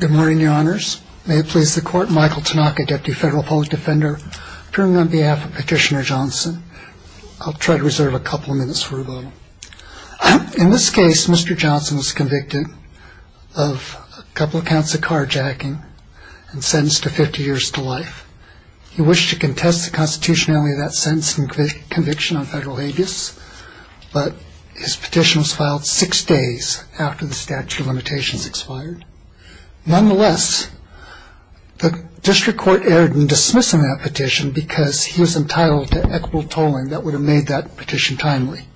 Good morning, Your Honors. May it please the Court, Michael Tanaka, Deputy Federal Public Defender, appearing on behalf of Petitioner Johnson. I'll try to reserve a couple of minutes for rebuttal. In this case, Mr. Johnson was convicted of a couple of counts of carjacking and sentenced to 50 years to life. He wished to contest the constitutionality of that sentence and conviction on federal habeas, but his petition was filed six days after the statute of limitations expired. Nonetheless, the district court erred in dismissing that petition because he was entitled to equitable tolling that would have made that petition timely.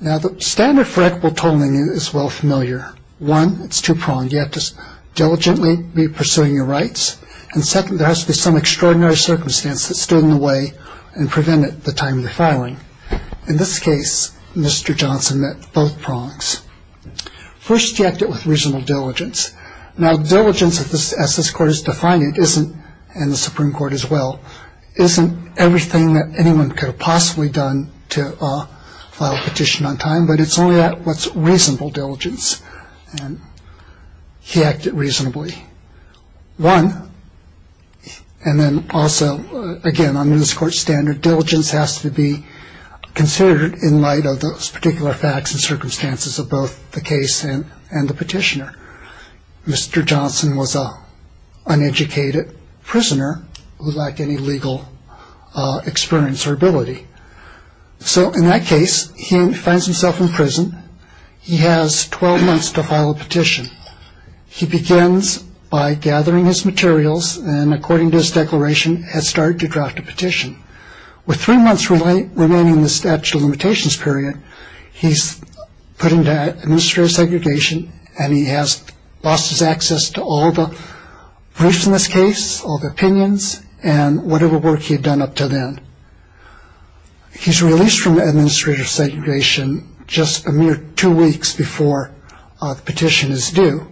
Now, the standard for equitable tolling is well familiar. One, it's two-pronged. You have to diligently be pursuing your rights. And second, there has to be some extraordinary circumstance that stood in the way and prevented the timely filing. In this case, Mr. Johnson met both prongs. First, he acted with reasonable diligence. Now, diligence, as this Court has defined it, isn't, and the Supreme Court as well, isn't everything that anyone could have possibly done to file a petition on time, but it's only that what's reasonable diligence, and he acted reasonably. One, and then also, again, under this Court's standard, diligence has to be considered in light of those particular facts and circumstances of both the case and the petitioner. Mr. Johnson was an uneducated prisoner who lacked any legal experience or ability. So in that case, he finds himself in prison. He has 12 months to file a petition. He begins by gathering his materials and, according to his declaration, has started to draft a petition. With three months remaining in the statute of limitations period, he's put into administrative segregation and he has lost his access to all the briefs in this case, all the opinions, and whatever work he had done up to then. He's released from administrative segregation just a mere two weeks before the petition is due.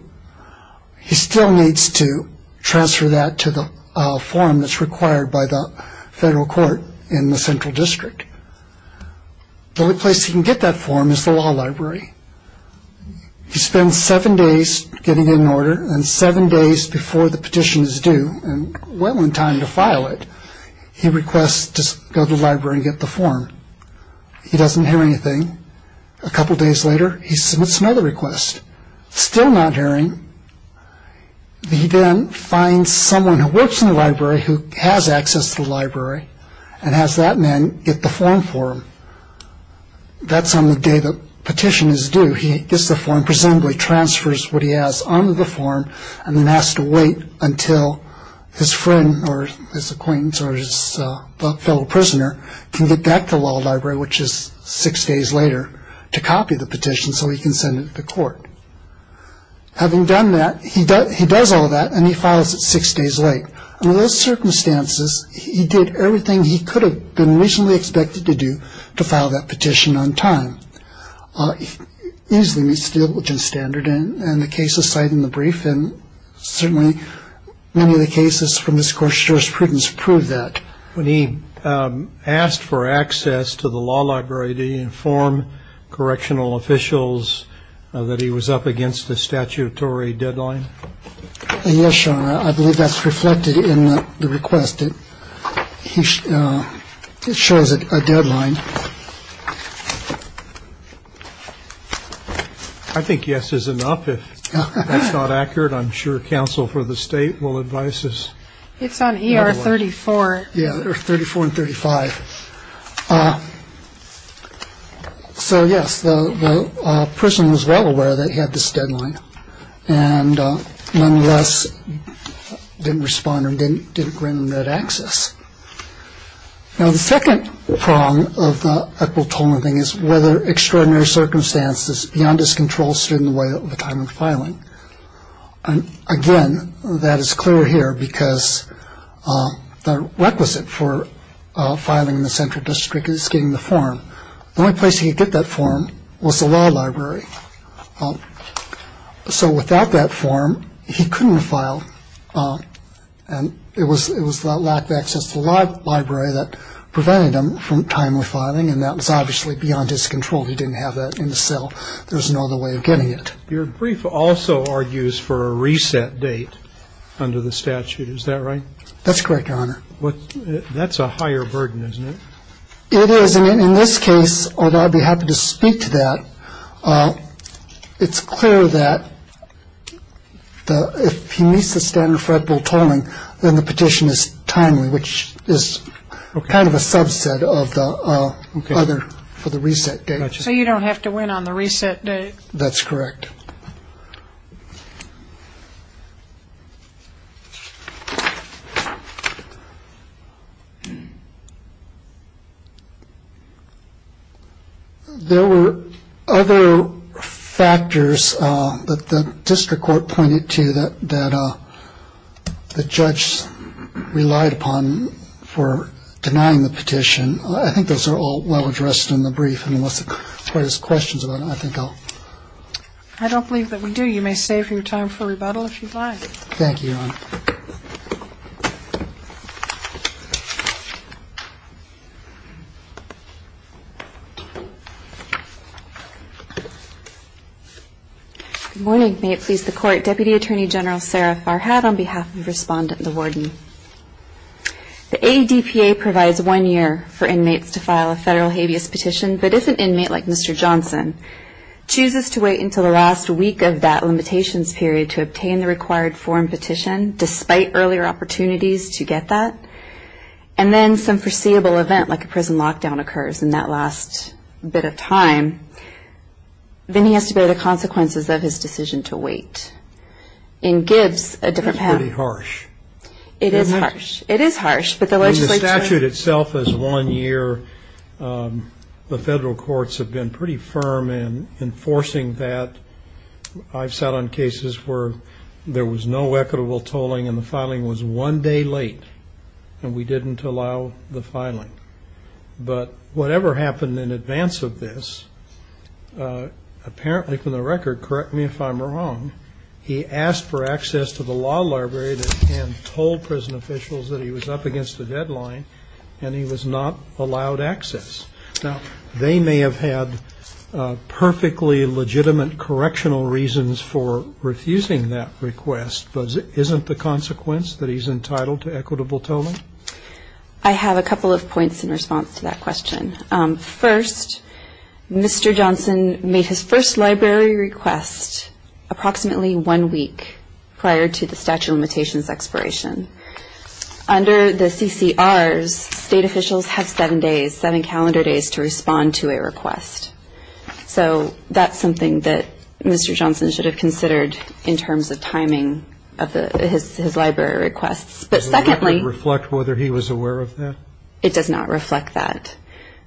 He still needs to transfer that to the form that's required by the federal court in the central district. The only place he can get that form is the law library. He spends seven days getting it in order, and seven days before the petition is due, and well in time to file it, he requests to go to the library and get the form. He doesn't hear anything. A couple days later, he submits another request, still not hearing. He then finds someone who works in the library who has access to the library and has that man get the form for him. That's on the day the petition is due. He gets the form, presumably transfers what he has onto the form, and then has to wait until his friend or his acquaintance or his fellow prisoner can get back to the law library, which is six days later, to copy the petition so he can send it to court. Having done that, he does all that and he files it six days late. Under those circumstances, he did everything he could have been reasonably expected to do to file that petition on time. He easily meets the diligence standard, and the case is cited in the brief, and certainly many of the cases from this court's jurisprudence prove that. When he asked for access to the law library, did he inform correctional officials that he was up against the statutory deadline? Yes, Your Honor. I believe that's reflected in the request. It shows a deadline. I think yes is enough. If that's not accurate, I'm sure counsel for the state will advise us. It's on ER 34. Yeah, 34 and 35. So, yes, the person was well aware that he had this deadline, and nonetheless didn't respond or didn't grant him that access. Now, the second prong of the Equal Tolerant thing is whether extraordinary circumstances beyond his control stood in the way of the time of filing. And, again, that is clear here because the requisite for filing in the central district is getting the form. The only place he could get that form was the law library. So without that form, he couldn't file, and it was the lack of access to the law library that prevented him from timely filing, and that was obviously beyond his control. He didn't have that in the cell. There was no other way of getting it. Your brief also argues for a reset date under the statute. Is that right? That's correct, Your Honor. That's a higher burden, isn't it? It is, and in this case, although I'd be happy to speak to that, it's clear that if he meets the standard for equitable tolerant, then the petition is timely, which is kind of a subset of the other for the reset date. So you don't have to win on the reset date. That's correct. There were other factors that the district court pointed to that the judge relied upon for denying the petition. I think those are all well addressed in the brief, unless there's questions about them, I think I'll... I don't believe that we do. You may save your time for rebuttal if you'd like. Thank you, Your Honor. Good morning. May it please the Court, Deputy Attorney General Sarah Farhad on behalf of Respondent LaWarden. The ADPA provides one year for inmates to file a federal habeas petition, but if an inmate like Mr. Johnson chooses to wait until the last week of that limitations period to obtain the required form petition, despite earlier opportunities to get that, and then some foreseeable event like a prison lockdown occurs in that last bit of time, then he has to bear the consequences of his decision to wait. In Gibbs, a different... That's pretty harsh. It is harsh. It is harsh, but the legislature... The federal courts have been pretty firm in enforcing that. I've sat on cases where there was no equitable tolling and the filing was one day late, and we didn't allow the filing. But whatever happened in advance of this, apparently from the record, correct me if I'm wrong, he asked for access to the law library and told prison officials that he was up against the deadline and he was not allowed access. Now, they may have had perfectly legitimate correctional reasons for refusing that request, but isn't the consequence that he's entitled to equitable tolling? I have a couple of points in response to that question. First, Mr. Johnson made his first library request approximately one week prior to the statute of limitations expiration. Under the CCRs, state officials have seven days, seven calendar days, to respond to a request. So that's something that Mr. Johnson should have considered in terms of timing of his library requests. But secondly... Does that reflect whether he was aware of that? It does not reflect that.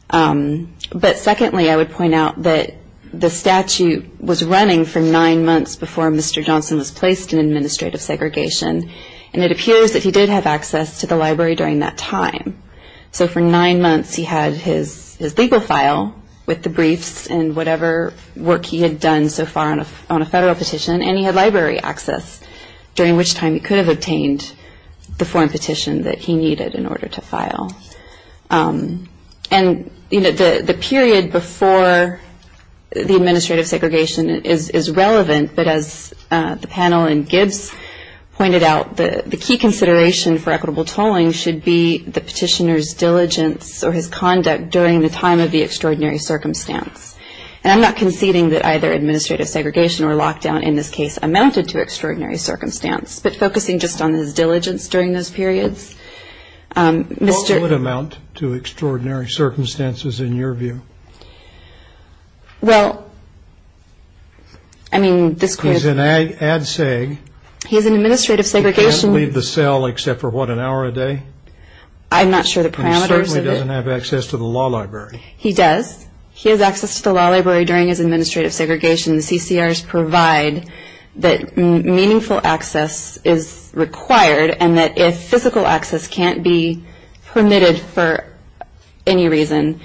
But secondly, I would point out that the statute was running for nine months before Mr. Johnson was placed in administrative segregation, and it appears that he did have access to the library during that time. So for nine months he had his legal file with the briefs and whatever work he had done so far on a federal petition, and he had library access, during which time he could have obtained the foreign petition that he needed in order to file. And the period before the administrative segregation is relevant, but as the panel and Gibbs pointed out, the key consideration for equitable tolling should be the petitioner's diligence or his conduct during the time of the extraordinary circumstance. And I'm not conceding that either administrative segregation or lockdown in this case amounted to extraordinary circumstance, but focusing just on his diligence during those periods, Mr. What would amount to extraordinary circumstances in your view? Well, I mean, this could He's an ad seg. He's in administrative segregation. He can't leave the cell except for what, an hour a day? I'm not sure the parameters of it. He certainly doesn't have access to the law library. He does. He has access to the law library during his administrative segregation. The CCRs provide that meaningful access is required, and that if physical access can't be permitted for any reason,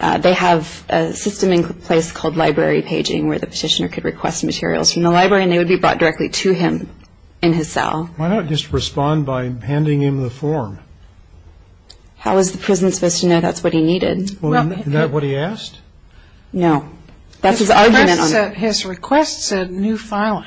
they have a system in place called library paging where the petitioner could request materials from the library and they would be brought directly to him in his cell. Why not just respond by handing him the form? How is the prison supposed to know that's what he needed? Is that what he asked? No. That's his argument. His request said new filing.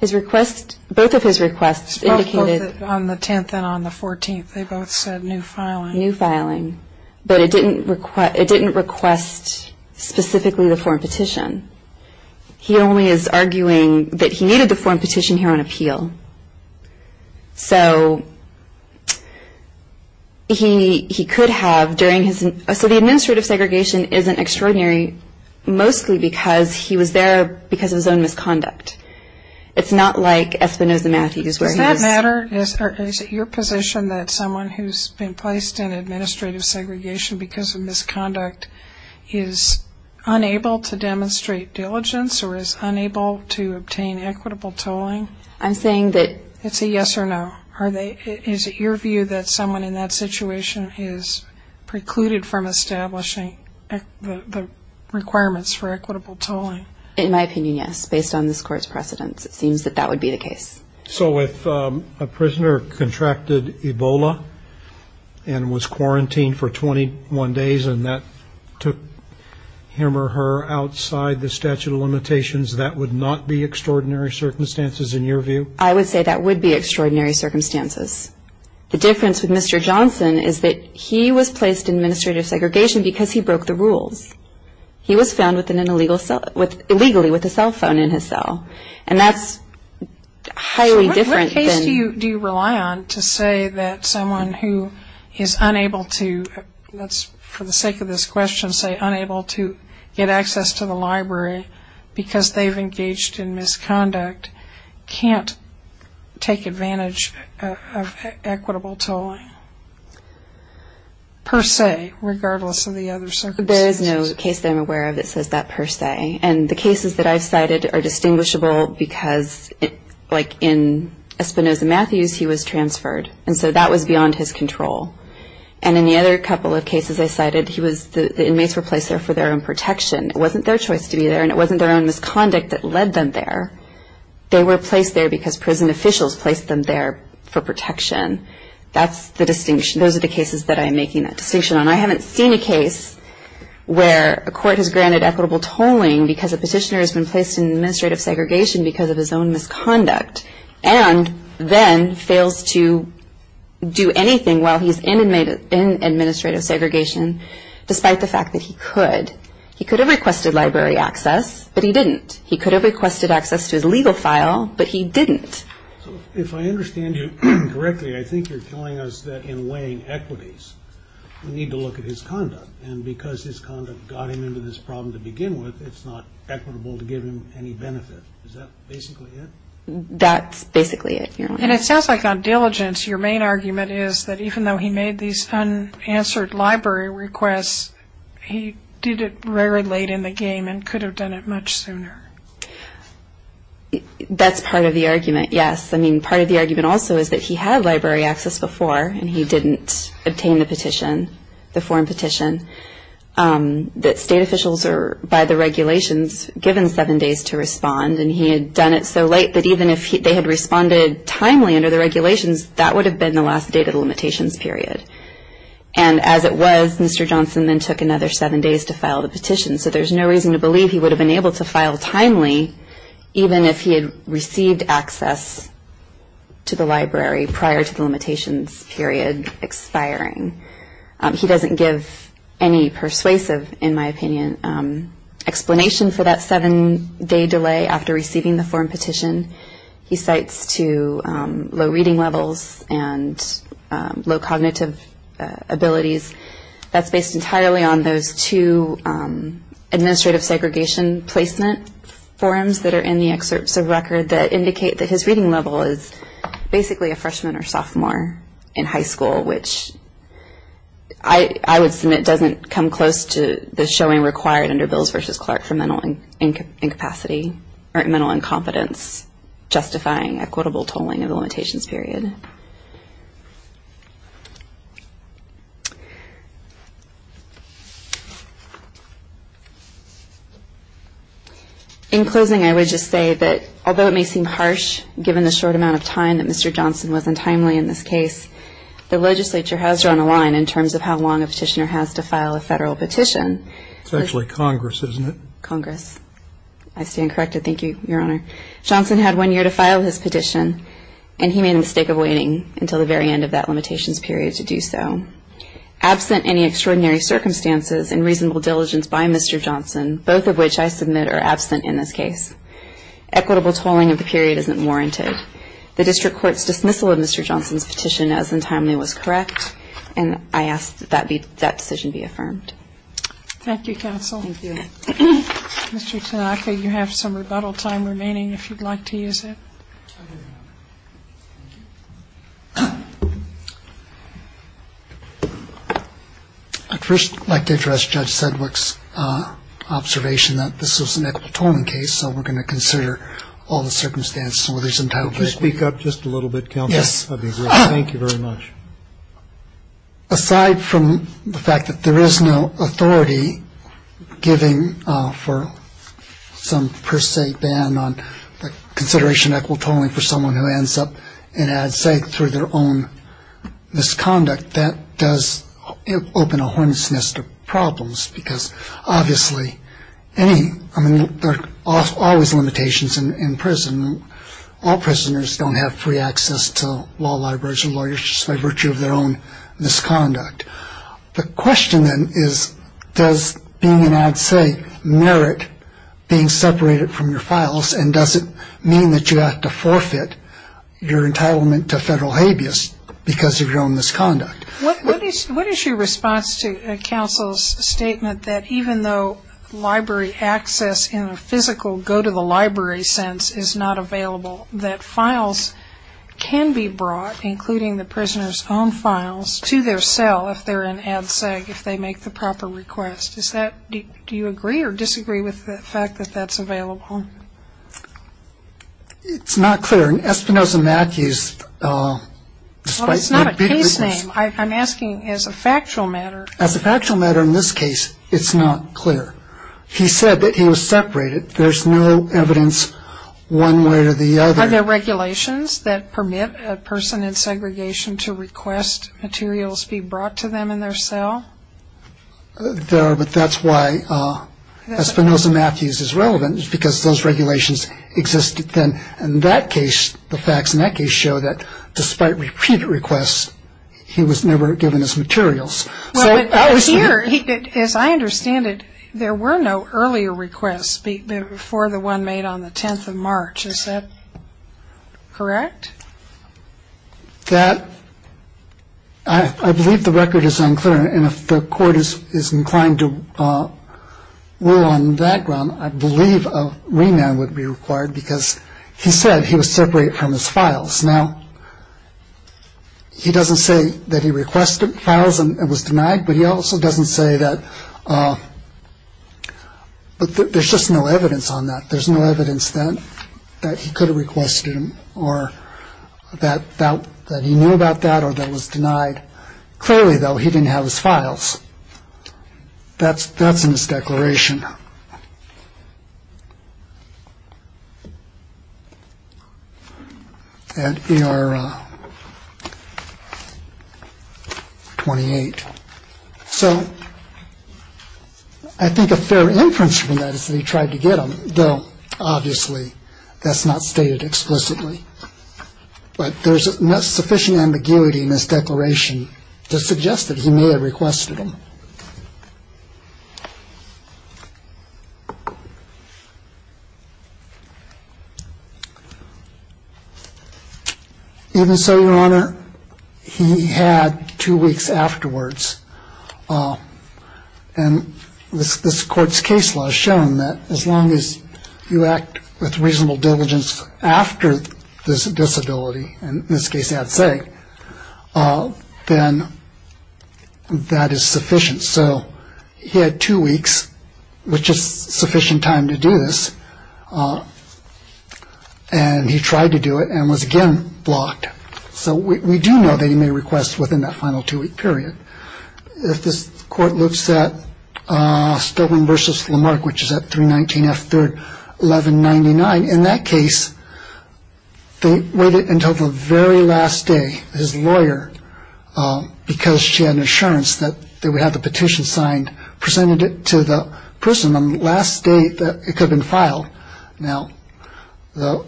Both of his requests indicated Both on the 10th and on the 14th, they both said new filing. New filing. But it didn't request specifically the form petition. He only is arguing that he needed the form petition here on appeal. So he could have during his So the administrative segregation isn't extraordinary mostly because he was there because of his own misconduct. It's not like Espinosa Matthews where he was Is it your position that someone who's been placed in administrative segregation because of misconduct is unable to demonstrate diligence or is unable to obtain equitable tolling? I'm saying that It's a yes or no. Is it your view that someone in that situation is precluded from establishing the requirements for equitable tolling? In my opinion, yes. Based on this court's precedents, it seems that that would be the case. So if a prisoner contracted Ebola and was quarantined for 21 days and that took him or her outside the statute of limitations, that would not be extraordinary circumstances in your view? I would say that would be extraordinary circumstances. The difference with Mr. Johnson is that he was placed in administrative segregation because he broke the rules. He was found illegally with a cell phone in his cell. And that's highly different than What case do you rely on to say that someone who is unable to, for the sake of this question, say unable to get access to the library because they've engaged in misconduct can't take advantage of equitable tolling per se regardless of the other circumstances? There is no case that I'm aware of that says that per se. And the cases that I've cited are distinguishable because, like in Espinosa Matthews, he was transferred. And so that was beyond his control. And in the other couple of cases I cited, the inmates were placed there for their own protection. It wasn't their choice to be there, and it wasn't their own misconduct that led them there. They were placed there because prison officials placed them there for protection. Those are the cases that I'm making that distinction on. I haven't seen a case where a court has granted equitable tolling because a petitioner has been placed in administrative segregation because of his own misconduct and then fails to do anything while he's in administrative segregation despite the fact that he could. He could have requested library access, but he didn't. He could have requested access to his legal file, but he didn't. So if I understand you correctly, I think you're telling us that in weighing equities we need to look at his conduct. And because his conduct got him into this problem to begin with, it's not equitable to give him any benefit. Is that basically it? That's basically it, Your Honor. And it sounds like on diligence your main argument is that even though he made these unanswered library requests, he did it very late in the game and could have done it much sooner. That's part of the argument, yes. I mean, part of the argument also is that he had library access before and he didn't obtain the petition, the form petition, that state officials are, by the regulations, given seven days to respond. And he had done it so late that even if they had responded timely under the regulations, that would have been the last date of the limitations period. And as it was, Mr. Johnson then took another seven days to file the petition. So there's no reason to believe he would have been able to file timely even if he had received access to the library prior to the limitations period expiring. He doesn't give any persuasive, in my opinion, explanation for that seven-day delay after receiving the form petition. He cites to low reading levels and low cognitive abilities. That's based entirely on those two administrative segregation placement forms that are in the excerpts of the record that indicate that his reading level is basically a freshman or sophomore in high school, which I would submit doesn't come close to the showing required under Bills v. Clark for mental incapacity or mental incompetence, justifying equitable tolling of the limitations period. In closing, I would just say that although it may seem harsh, given the short amount of time that Mr. Johnson was on timely in this case, the legislature has drawn a line in terms of how long a petitioner has to file a federal petition. It's actually Congress, isn't it? Congress. I stand corrected. Thank you, Your Honor. Johnson had one year to file his petition, and he made a mistake of waiting until the very end of that limitations period to do so. Absent any extraordinary circumstances and reasonable diligence by Mr. Johnson, both of which I submit are absent in this case, equitable tolling of the period isn't warranted. The district court's dismissal of Mr. Johnson's petition as untimely was correct, and I ask that that decision be affirmed. Thank you, counsel. Thank you. Mr. Tanaka, you have some rebuttal time remaining if you'd like to use it. I'd first like to address Judge Sedgwick's observation that this was an equitable tolling case, so we're going to consider all the circumstances where there's entitlement. Could you speak up just a little bit, counsel? Yes. Thank you very much. Aside from the fact that there is no authority giving for some per se ban on the consideration of equitable tolling for someone who ends up in Ad Sec through their own misconduct, that does open a horrendous nest of problems, because obviously any ñ I mean, there are always limitations in prison. All prisoners don't have free access to law libraries or lawyers just by virtue of their own misconduct. The question then is, does being in Ad Sec merit being separated from your files, and does it mean that you have to forfeit your entitlement to federal habeas because of your own misconduct? What is your response to counsel's statement that even though library access in a physical go-to-the-library sense is not available, that files can be brought, including the prisoner's own files, to their cell if they're in Ad Sec, if they make the proper request? Is that ñ do you agree or disagree with the fact that that's available? It's not clear, and Espinoza-Matthews ñ Well, it's not a case name. I'm asking as a factual matter. As a factual matter in this case, it's not clear. He said that he was separated. There's no evidence one way or the other. Are there regulations that permit a person in segregation to request materials be brought to them in their cell? There are, but that's why Espinoza-Matthews is relevant, because those regulations existed then. In that case, the facts in that case show that despite repeated requests, he was never given his materials. Well, but here, as I understand it, there were no earlier requests before the one made on the 10th of March. Is that correct? That ñ I believe the record is unclear, and if the Court is inclined to rule on that ground, I believe a remand would be required because he said he was separated from his files. Now, he doesn't say that he requested files and was denied, but he also doesn't say that ñ but there's just no evidence on that. There's no evidence that he could have requested them or that he knew about that or that was denied. Clearly, though, he didn't have his files. That's ñ that's in his declaration at ER 28. So I think a fair inference from that is that he tried to get them, though obviously that's not stated explicitly. But there's sufficient ambiguity in this declaration to suggest that he may have requested them. Even so, Your Honor, he had two weeks afterwards, and this Court's case law has shown that as long as you act with reasonable diligence after this disability, and in this case, I'd say, then that is sufficient. So he had two weeks, which is sufficient time to do this, and he tried to do it and was again blocked. So we do know that he may request within that final two-week period. If this Court looks at Stobing v. Lamarck, which is at 319F3-1199, in that case, they waited until the very last day. His lawyer, because she had an assurance that they would have the petition signed, presented it to the person on the last day that it could have been filed. Now, the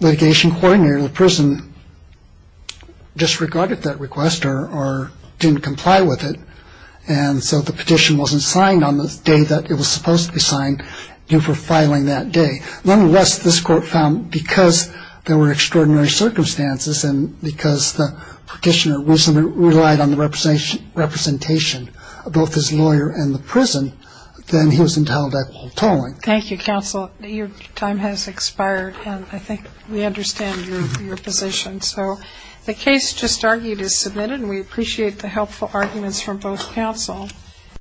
litigation coordinator of the prison disregarded that request or didn't comply with it, and so the petition wasn't signed on the day that it was supposed to be signed due for filing that day. Nonetheless, this Court found because there were extraordinary circumstances and because the petitioner reasonably relied on the representation of both his lawyer and the prison, then he was entitled to hold tolling. Thank you, counsel. Your time has expired, and I think we understand your position. So the case just argued is submitted, and we appreciate the helpful arguments from both counsel.